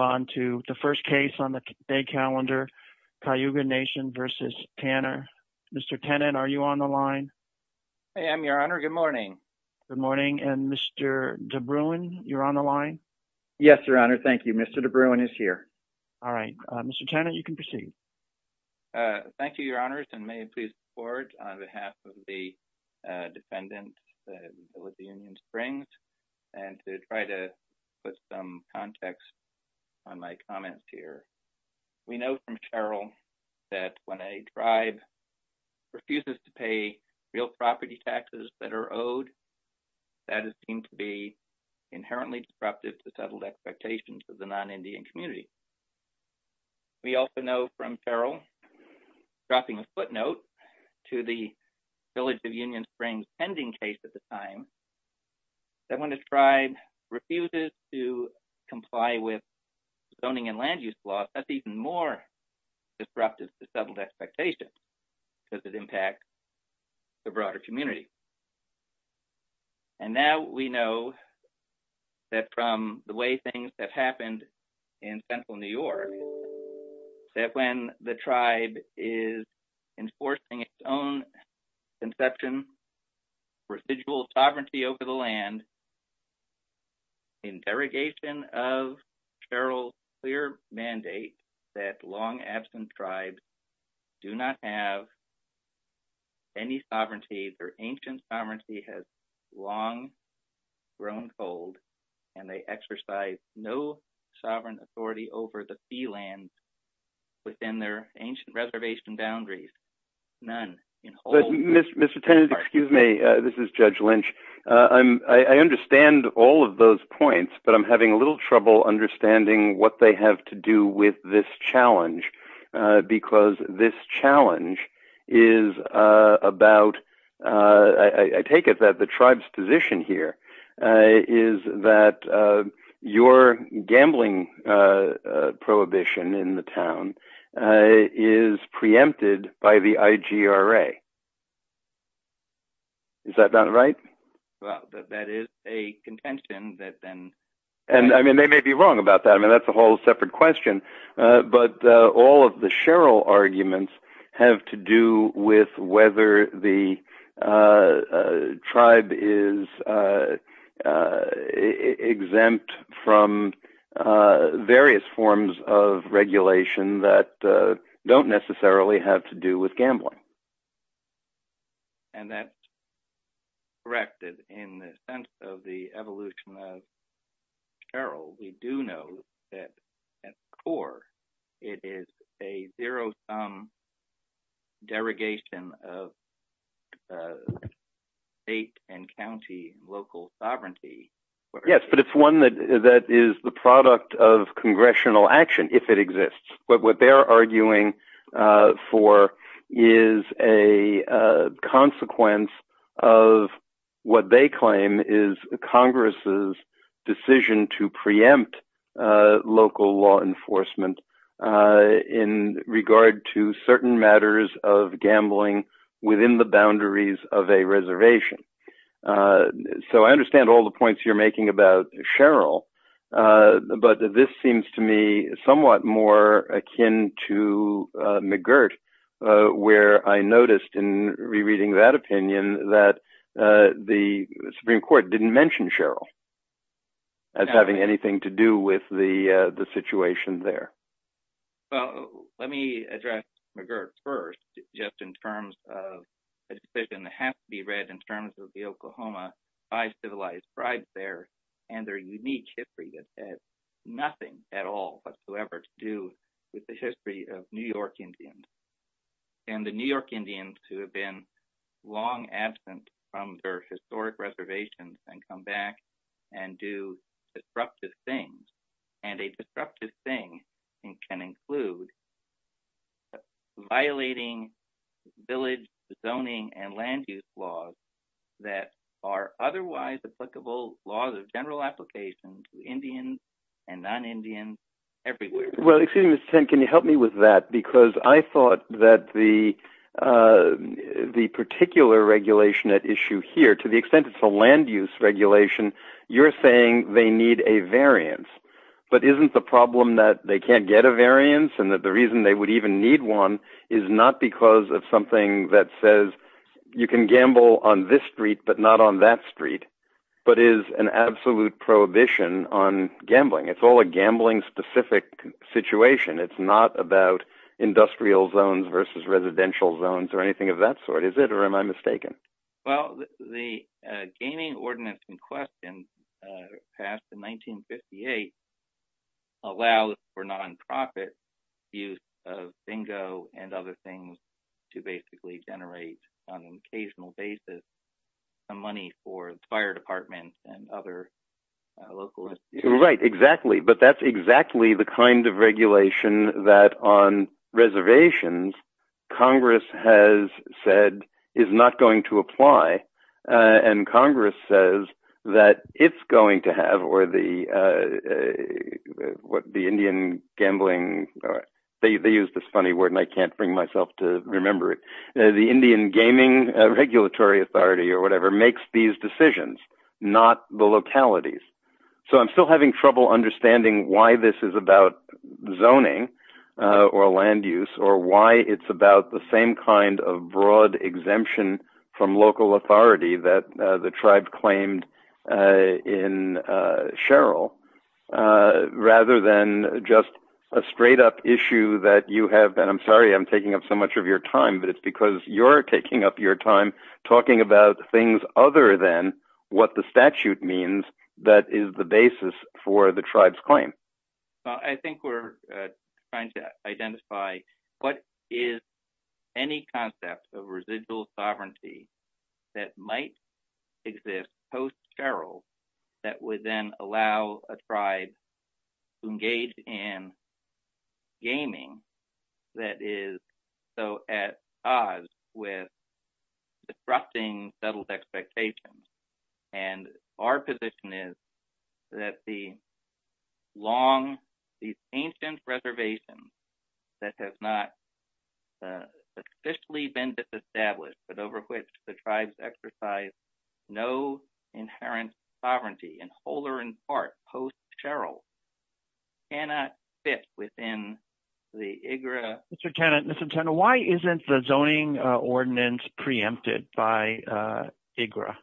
I am your honor. Good morning. Good morning. And Mr. DeBruin, you're on the line. Yes, your honor. Thank you. Mr. DeBruin is here. All right, Mr. Tanner, you can proceed. Thank you, your honors. And may please forward on behalf of the defendant with the Union Springs and to try to put some context to what's going on in the state of California. On my comments here, we know from Cheryl that when a tribe refuses to pay real property taxes that are owed, that is deemed to be inherently disruptive to settled expectations of the non-Indian community. We also know from Cheryl, dropping a footnote to the Village of Union Springs pending case at the time, that when a tribe refuses to comply with zoning and land use laws, that's even more disruptive to settled expectations because it impacts the broader community. And now we know that from the way things have happened in Central New York, that when the tribe is enforcing its own conception, residual sovereignty over the land, in derogation of Cheryl's clear mandate that long absent tribes do not have any sovereignty, their ancient sovereignty has long grown cold, and they exercise no sovereign authority over the fee lands within their ancient reservation boundaries. None. Mr. Tennant, excuse me, this is Judge Lynch. I understand all of those points, but I'm having a little trouble understanding what they have to do with this challenge. Because this challenge is about, I take it that the tribe's position here is that your gambling prohibition in the town is preempted by the IGRA. Is that not right? Well, that is a contention that then… And I mean, they may be wrong about that. I mean, that's a whole separate question. But all of the Cheryl arguments have to do with whether the tribe is exempt from various forms of regulation that don't necessarily have to do with gambling. And that's corrected in the sense of the evolution of Cheryl. We do know that at its core, it is a zero-sum derogation of state and county local sovereignty. Yes, but it's one that is the product of congressional action, if it exists. But what they're arguing for is a consequence of what they claim is Congress's decision to preempt local law enforcement in regard to certain matters of gambling within the boundaries of a reservation. So I understand all the points you're making about Cheryl, but this seems to me somewhat more akin to McGirt, where I noticed in rereading that opinion that the Supreme Court didn't mention Cheryl as having anything to do with the situation there. Well, let me address McGirt first, just in terms of a decision that has to be read in terms of the Oklahoma bi-civilized tribes there and their unique history that has nothing at all whatsoever to do with the history of New York Indians. And the New York Indians who have been long absent from their historic reservations can come back and do disruptive things. And a disruptive thing can include violating village zoning and land use laws that are otherwise applicable laws of general application to Indians and non-Indians everywhere. Well, excuse me, Mr. Kent, can you help me with that? Because I thought that the particular regulation at issue here, to the extent it's a land use regulation, you're saying they need a variance. But isn't the problem that they can't get a variance and that the reason they would even need one is not because of something that says you can gamble on this street, but not on that street, but is an absolute prohibition on gambling. It's all a gambling-specific situation. It's not about industrial zones versus residential zones or anything of that sort, is it, or am I mistaken? Well, the Gaming Ordinance in question, passed in 1958, allows for non-profit use of bingo and other things to basically generate, on an occasional basis, money for fire departments and other local institutions. Right, exactly. But that's exactly the kind of regulation that on reservations, Congress has said is not going to apply. And Congress says that it's going to have, or the Indian gambling, they use this funny word and I can't bring myself to remember it, the Indian Gaming Regulatory Authority or whatever makes these decisions, not the localities. So I'm still having trouble understanding why this is about zoning or land use or why it's about the same kind of broad exemption from local authority that the tribe claimed in Sherrill, rather than just a straight-up issue that you have. And I'm sorry I'm taking up so much of your time, but it's because you're taking up your time talking about things other than what the statute means that is the basis for the tribe's claim. that is so at odds with disrupting settled expectations. And our position is that the long, these ancient reservations that have not officially been established, but over which the tribes exercise no inherent sovereignty, in whole or in part, post-Sherrill, cannot fit within the IGRA. Mr. Tennant, why isn't the zoning ordinance preempted by IGRA?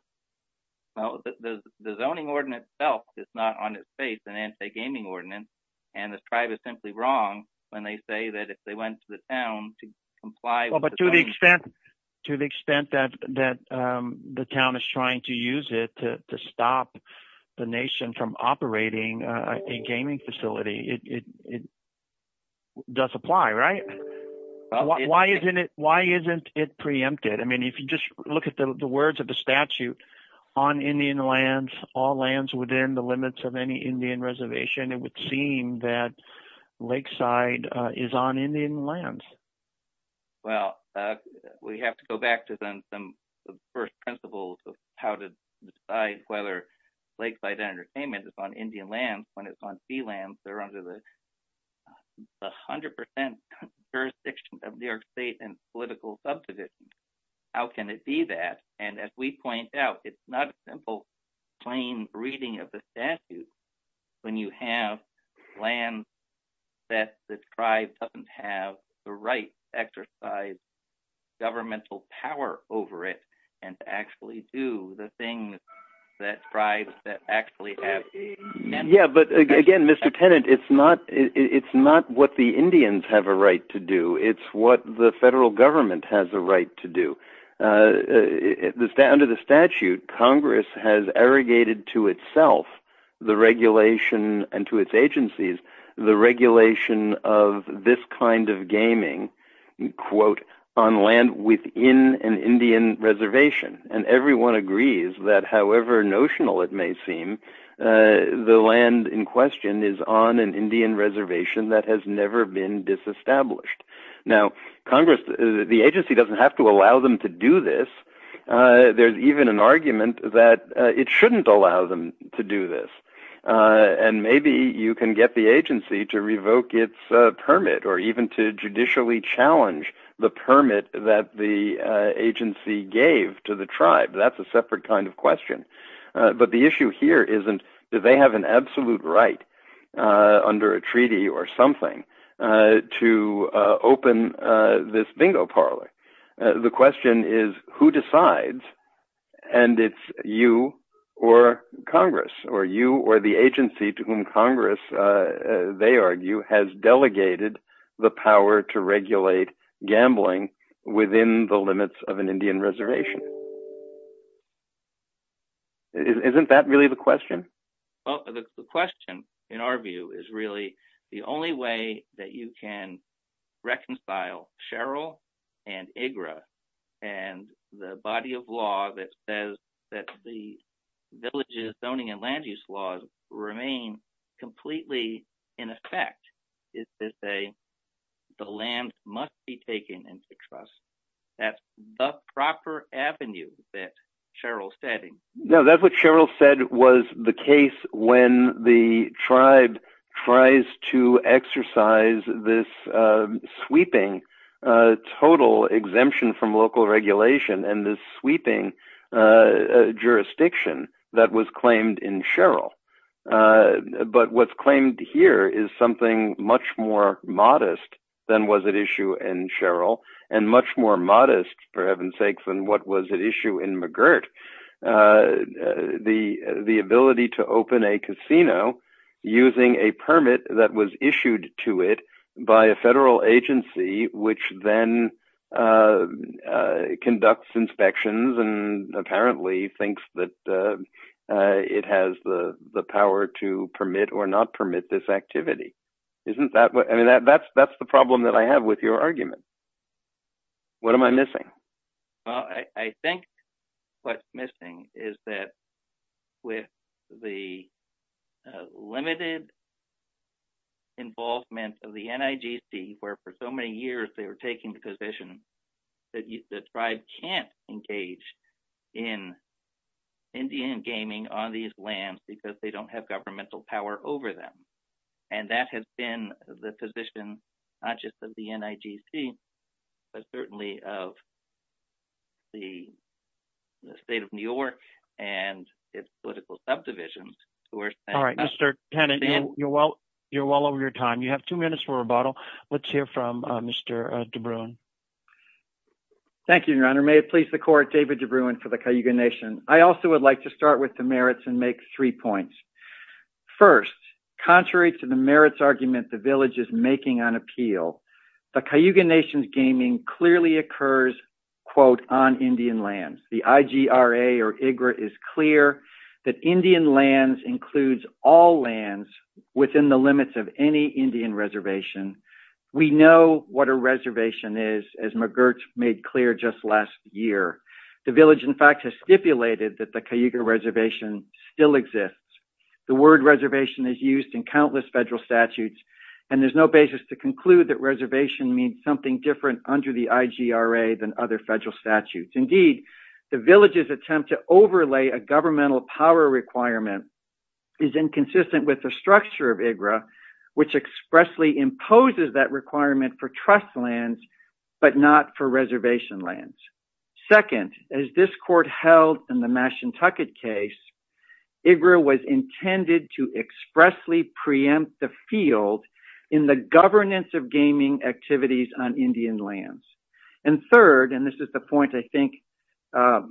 Well, the zoning ordinance itself is not on its face, an anti-gaming ordinance, and the tribe is simply wrong when they say that if they went to the town to comply with the zoning. To the extent that the town is trying to use it to stop the nation from operating a gaming facility, it does apply, right? Why isn't it preempted? I mean, if you just look at the words of the statute, on Indian lands, all lands within the limits of any Indian reservation, it would seem that Lakeside is on Indian lands. Well, we have to go back to some first principles of how to decide whether Lakeside Entertainment is on Indian lands. When it's on sea lands, they're under the 100% jurisdiction of New York State and political subdivisions. How can it be that? And as we point out, it's not a simple plain reading of the statute when you have lands that the tribe doesn't have the right to exercise governmental power over it and to actually do the things that tribes actually have meant to do. Yeah, but again, Mr. Tennant, it's not what the Indians have a right to do. It's what the federal government has a right to do. Under the statute, Congress has arrogated to itself the regulation and to its agencies the regulation of this kind of gaming, quote, on land within an Indian reservation. And everyone agrees that however notional it may seem, the land in question is on an Indian reservation that has never been disestablished. Now, the agency doesn't have to allow them to do this. There's even an argument that it shouldn't allow them to do this. And maybe you can get the agency to revoke its permit or even to judicially challenge the permit that the agency gave to the tribe. That's a separate kind of question. But the issue here isn't that they have an absolute right under a treaty or something to open this bingo parlor. The question is who decides and it's you or Congress or you or the agency to whom Congress, they argue, has delegated the power to regulate gambling within the limits of an Indian reservation. Isn't that really the question? Well, the question, in our view, is really the only way that you can reconcile Sherrill and IGRA and the body of law that says that the villages zoning and land use laws remain completely in effect is to say the land must be taken into trust. That's the proper avenue that Sherrill's stating. So that's what Sherrill said was the case when the tribe tries to exercise this sweeping total exemption from local regulation and this sweeping jurisdiction that was claimed in Sherrill. But what's claimed here is something much more modest than what was at issue in Sherrill and much more modest, for heaven's sake, than what was at issue in McGirt. the ability to open a casino using a permit that was issued to it by a federal agency, which then conducts inspections and apparently thinks that it has the power to permit or not permit this activity. I mean, that's the problem that I have with your argument. What am I missing? Well, I think what's missing is that with the limited involvement of the NIGC, where for so many years they were taking the position that the tribe can't engage in Indian gaming on these lands because they don't have governmental power over them. And that has been the position, not just of the NIGC, but certainly of the state of New York and its political subdivisions. All right, Mr. Tennant, you're well over your time. You have two minutes for rebuttal. Let's hear from Mr. DeBruin. Thank you, Your Honor. May it please the court, David DeBruin for the Cayuga Nation. I also would like to start with the merits and make three points. First, contrary to the merits argument the village is making on appeal, the Cayuga Nation's gaming clearly occurs, quote, on Indian lands. The IGRA is clear that Indian lands includes all lands within the limits of any Indian reservation. We know what a reservation is, as McGirt made clear just last year. The village, in fact, has stipulated that the Cayuga reservation still exists. The word reservation is used in countless federal statutes, and there's no basis to conclude that reservation means something different under the IGRA than other federal statutes. Indeed, the village's attempt to overlay a governmental power requirement is inconsistent with the structure of IGRA, which expressly imposes that requirement for trust lands, but not for reservation lands. Second, as this court held in the Mashantucket case, IGRA was intended to expressly preempt the field in the governance of gaming activities on Indian lands. And third, and this is the point I think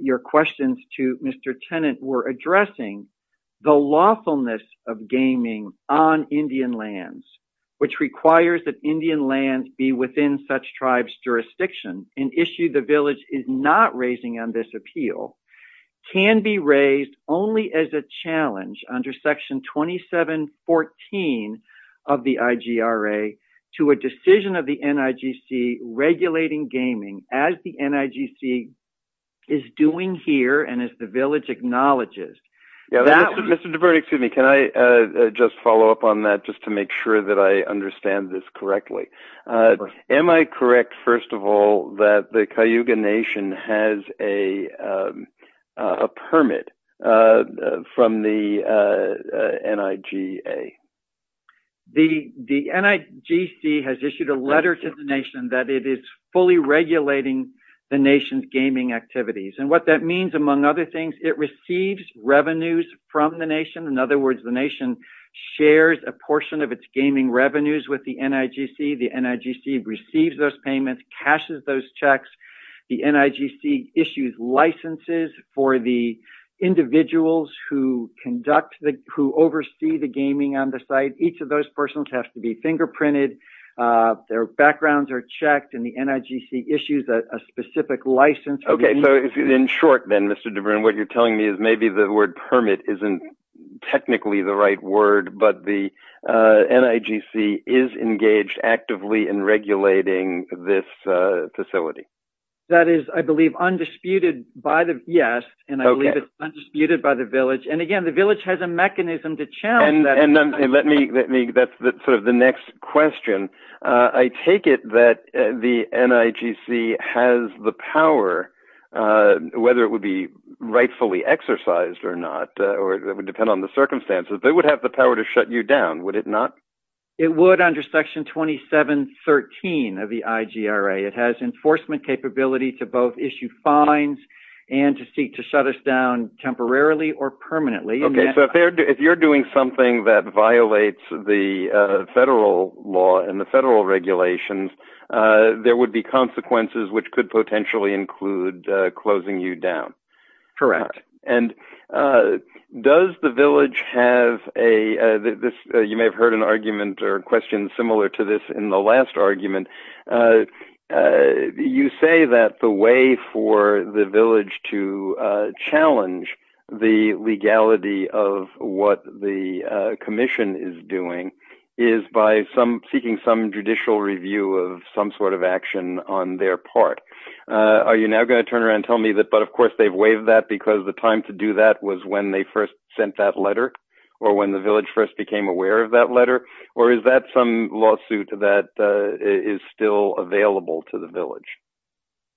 your questions to Mr. Tennant were addressing, the lawfulness of gaming on Indian lands, which requires that Indian lands be within such tribes' jurisdiction, an issue the village is not raising on this appeal, can be raised only as a challenge under Section 2714 of the IGRA to a decision of the NIGC regulating gaming as the NIGC is doing here and as the village acknowledges. Mr. DeVernier, can I just follow up on that just to make sure that I understand this correctly? Am I correct, first of all, that the Cayuga Nation has a permit from the NIGA? The NIGC has issued a letter to the Nation that it is fully regulating the Nation's gaming activities. And what that means, among other things, it receives revenues from the Nation. In other words, the Nation shares a portion of its gaming revenues with the NIGC. The NIGC receives those payments, cashes those checks. The NIGC issues licenses for the individuals who conduct, who oversee the gaming on the site. Each of those persons have to be fingerprinted. Their backgrounds are checked and the NIGC issues a specific license. Okay, so in short then, Mr. DeVernier, what you're telling me is maybe the word permit isn't technically the right word, but the NIGC is engaged actively in regulating this facility. That is, I believe, undisputed by the, yes, and I believe it's undisputed by the village. And again, the village has a mechanism to challenge that. And let me, that's sort of the next question. I take it that the NIGC has the power, whether it would be rightfully exercised or not, or it would depend on the circumstances, they would have the power to shut you down, would it not? It would under Section 2713 of the IGRA. It has enforcement capability to both issue fines and to seek to shut us down temporarily or permanently. Okay, so if you're doing something that violates the federal law and the federal regulations, there would be consequences which could potentially include closing you down. Correct. And does the village have a, you may have heard an argument or a question similar to this in the last argument. You say that the way for the village to challenge the legality of what the commission is doing is by seeking some judicial review of some sort of action on their part. Are you now going to turn around and tell me that, but of course they've waived that because the time to do that was when they first sent that letter or when the village first became aware of that letter? Or is that some lawsuit that is still available to the village?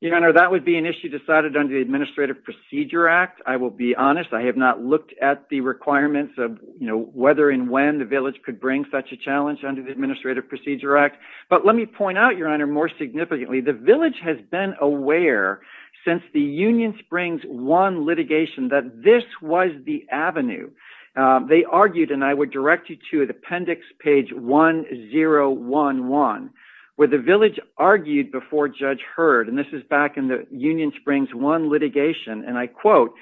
Your Honor, that would be an issue decided under the Administrative Procedure Act. I will be honest, I have not looked at the requirements of whether and when the village could bring such a challenge under the Administrative Procedure Act. But let me point out, Your Honor, more significantly, the village has been aware since the Union Springs 1 litigation that this was the avenue. They argued, and I would direct you to the appendix page 1011, where the village argued before Judge Heard, and this is back in the Union Springs 1 litigation, and I quote,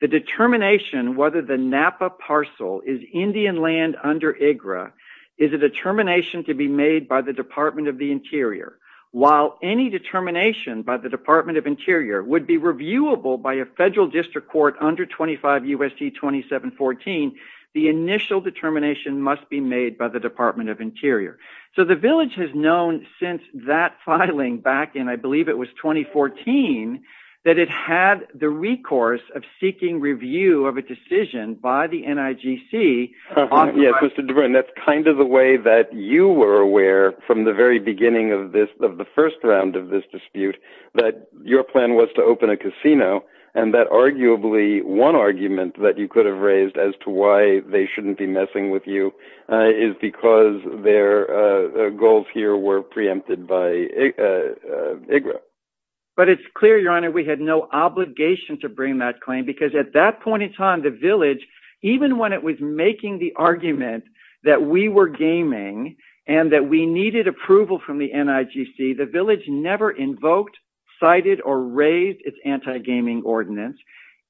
The determination whether the Napa parcel is Indian land under IGRA is a determination to be made by the Department of the Interior. While any determination by the Department of Interior would be reviewable by a federal district court under 25 U.S.C. 2714, the initial determination must be made by the Department of Interior. So the village has known since that filing back in, I believe it was 2014, that it had the recourse of seeking review of a decision by the NIGC. Yes, Mr. Debrin, that's kind of the way that you were aware from the very beginning of the first round of this dispute that your plan was to open a casino, and that arguably one argument that you could have raised as to why they shouldn't be messing with you is because their goals here were preempted by IGRA. But it's clear, Your Honor, we had no obligation to bring that claim because at that point in time, the village, even when it was making the argument that we were gaming and that we needed approval from the NIGC, the village never invoked, cited, or raised its anti-gaming ordinance.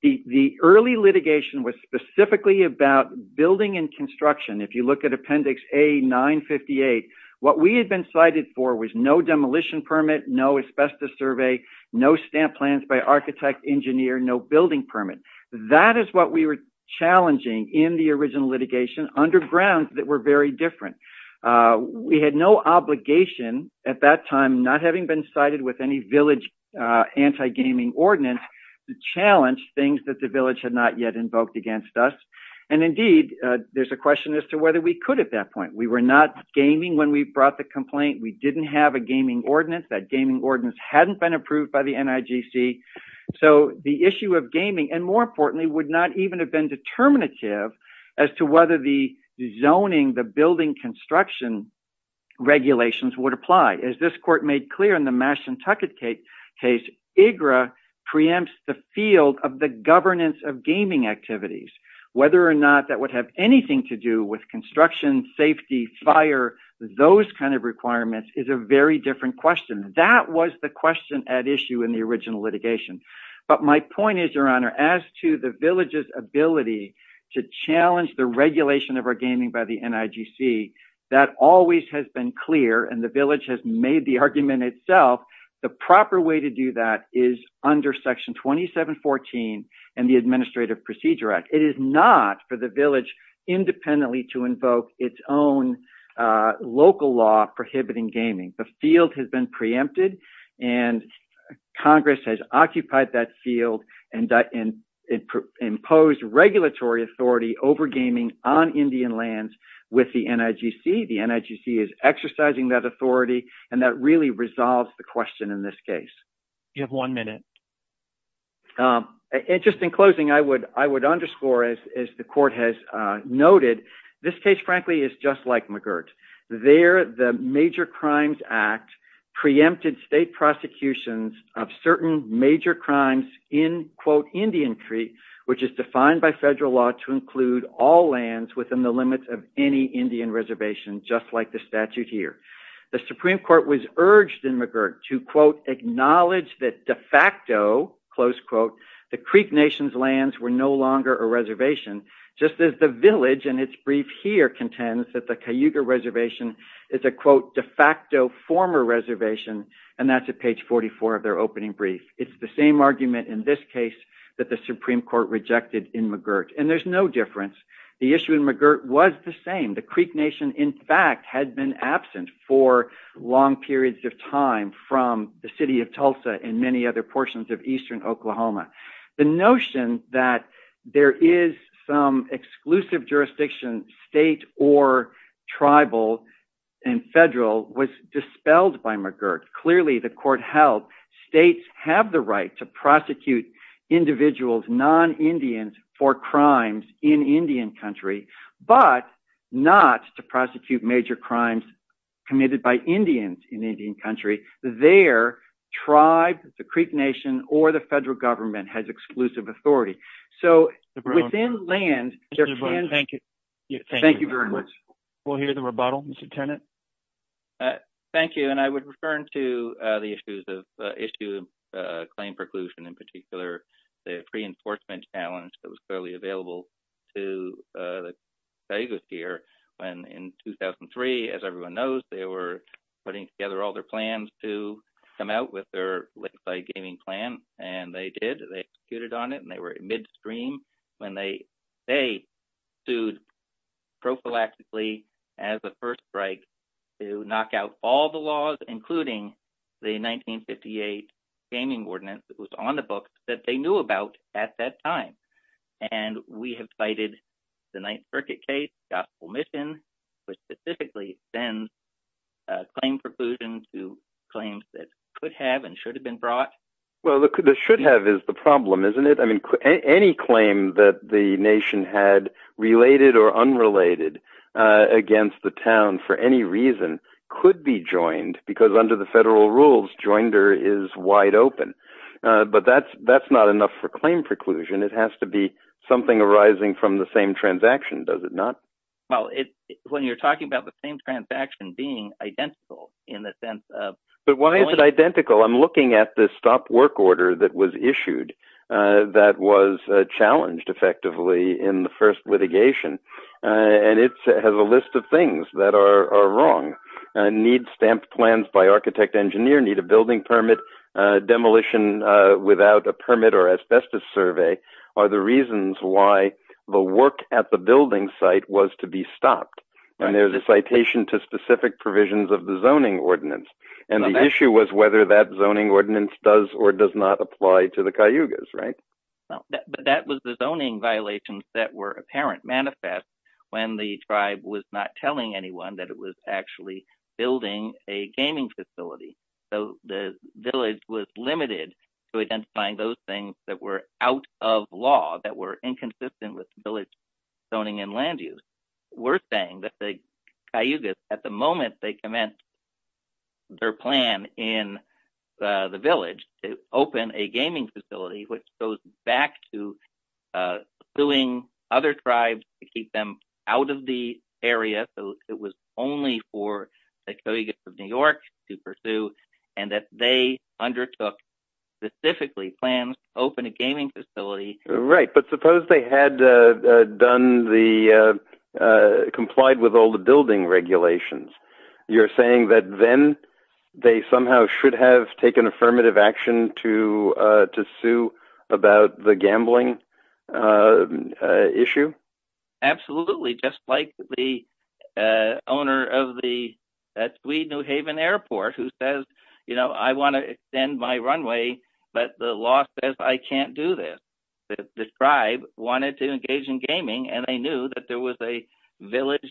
The early litigation was specifically about building and construction. If you look at Appendix A-958, what we had been cited for was no demolition permit, no asbestos survey, no stamp plans by architect, engineer, no building permit. That is what we were challenging in the original litigation underground that were very different. We had no obligation at that time, not having been cited with any village anti-gaming ordinance, to challenge things that the village had not yet invoked against us. Indeed, there's a question as to whether we could at that point. We were not gaming when we brought the complaint. We didn't have a gaming ordinance. That gaming ordinance hadn't been approved by the NIGC. So the issue of gaming, and more importantly, would not even have been determinative as to whether the zoning, the building construction regulations would apply. As this court made clear in the Mashantucket case, IGRA preempts the field of the governance of gaming activities. Whether or not that would have anything to do with construction, safety, fire, those kind of requirements is a very different question. That was the question at issue in the original litigation. But my point is, Your Honor, as to the village's ability to challenge the regulation of our gaming by the NIGC, that always has been clear and the village has made the argument itself. The proper way to do that is under Section 2714 and the Administrative Procedure Act. It is not for the village independently to invoke its own local law prohibiting gaming. The field has been preempted and Congress has occupied that field and imposed regulatory authority over gaming on Indian lands with the NIGC. The NIGC is exercising that authority and that really resolves the question in this case. You have one minute. Just in closing, I would underscore, as the court has noted, this case, frankly, is just like McGirt. There, the Major Crimes Act preempted state prosecutions of certain major crimes in, quote, Indian Crete, which is defined by federal law to include all lands within the limits of any Indian reservation, just like the statute here. The Supreme Court was urged in McGirt to, quote, acknowledge that de facto, close quote, the Crete Nation's lands were no longer a reservation, just as the village in its brief here contends that the Cayuga Reservation is a, quote, de facto former reservation, and that's at page 44 of their opening brief. It's the same argument in this case that the Supreme Court rejected in McGirt, and there's no difference. The issue in McGirt was the same. The Crete Nation, in fact, had been absent for long periods of time from the city of Tulsa and many other portions of eastern Oklahoma. The notion that there is some exclusive jurisdiction, state or tribal and federal, was dispelled by McGirt. Clearly, the court held states have the right to prosecute individuals, non-Indians, for crimes in Indian Country, but not to prosecute major crimes committed by Indians in Indian Country. There, tribes, the Crete Nation, or the federal government has exclusive authority. So, within land, there can... Thank you. Thank you very much. We'll hear the rebuttal, Mr. Tenet. Thank you. And I would return to the issues of claim preclusion, in particular, the pre-enforcement challenge that was clearly available to the Cayugas here when, in 2003, as everyone knows, they were putting together all their plans to come out with their lakeside gaming plan. And they did. They executed on it, and they were at midstream when they sued prophylactically as a first strike to knock out all the laws, including the 1958 gaming ordinance that was on the books that they knew about at that time. And we have cited the Ninth Circuit case, Gospel Mission, which specifically sends claim preclusion to claims that could have and should have been brought. Well, the should have is the problem, isn't it? I mean, any claim that the nation had related or unrelated against the town for any reason could be joined, because under the federal rules, joinder is wide open. But that's not enough for claim preclusion. It has to be something arising from the same transaction, does it not? Well, when you're talking about the same transaction being identical in the sense of... But why is it identical? I'm looking at the stop work order that was issued that was challenged effectively in the first litigation, and it has a list of things that are wrong. Need stamped plans by architect engineer, need a building permit, demolition without a permit or asbestos survey are the reasons why the work at the building site was to be stopped. And there's a citation to specific provisions of the zoning ordinance. And the issue was whether that zoning ordinance does or does not apply to the Cayugas, right? But that was the zoning violations that were apparent manifest when the tribe was not telling anyone that it was actually building a gaming facility. So the village was limited to identifying those things that were out of law, that were inconsistent with village zoning and land use. We're saying that the Cayugas, at the moment they commence their plan in the village to open a gaming facility, which goes back to suing other tribes to keep them out of the area. So it was only for the Cayugas of New York to pursue, and that they undertook specifically plans to open a gaming facility. Right, but suppose they had complied with all the building regulations. You're saying that then they somehow should have taken affirmative action to sue about the gambling issue? Absolutely, just like the owner of the Tweed New Haven Airport who says, you know, I want to extend my runway, but the law says I can't do this. The tribe wanted to engage in gaming, and they knew that there was a village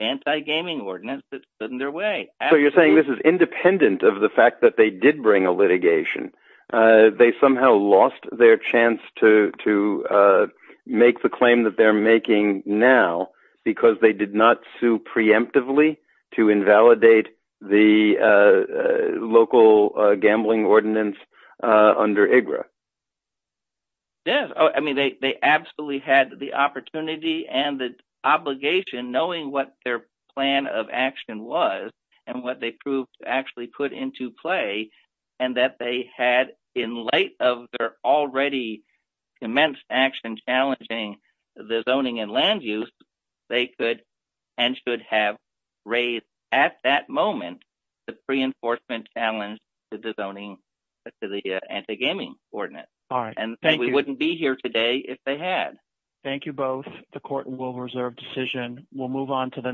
anti-gaming ordinance that stood in their way. So you're saying this is independent of the fact that they did bring a litigation. They somehow lost their chance to make the claim that they're making now because they did not sue preemptively to invalidate the local gambling ordinance under IGRA. Yes, I mean, they absolutely had the opportunity and the obligation, knowing what their plan of action was and what they proved to actually put into play, and that they had, in light of their already commenced action challenging the zoning and land use, they could and should have raised at that moment the pre-enforcement challenge to the zoning, to the anti-gaming ordinance. All right, thank you. And we wouldn't be here today if they had. Thank you both. The court will reserve decision. We'll move on to the next.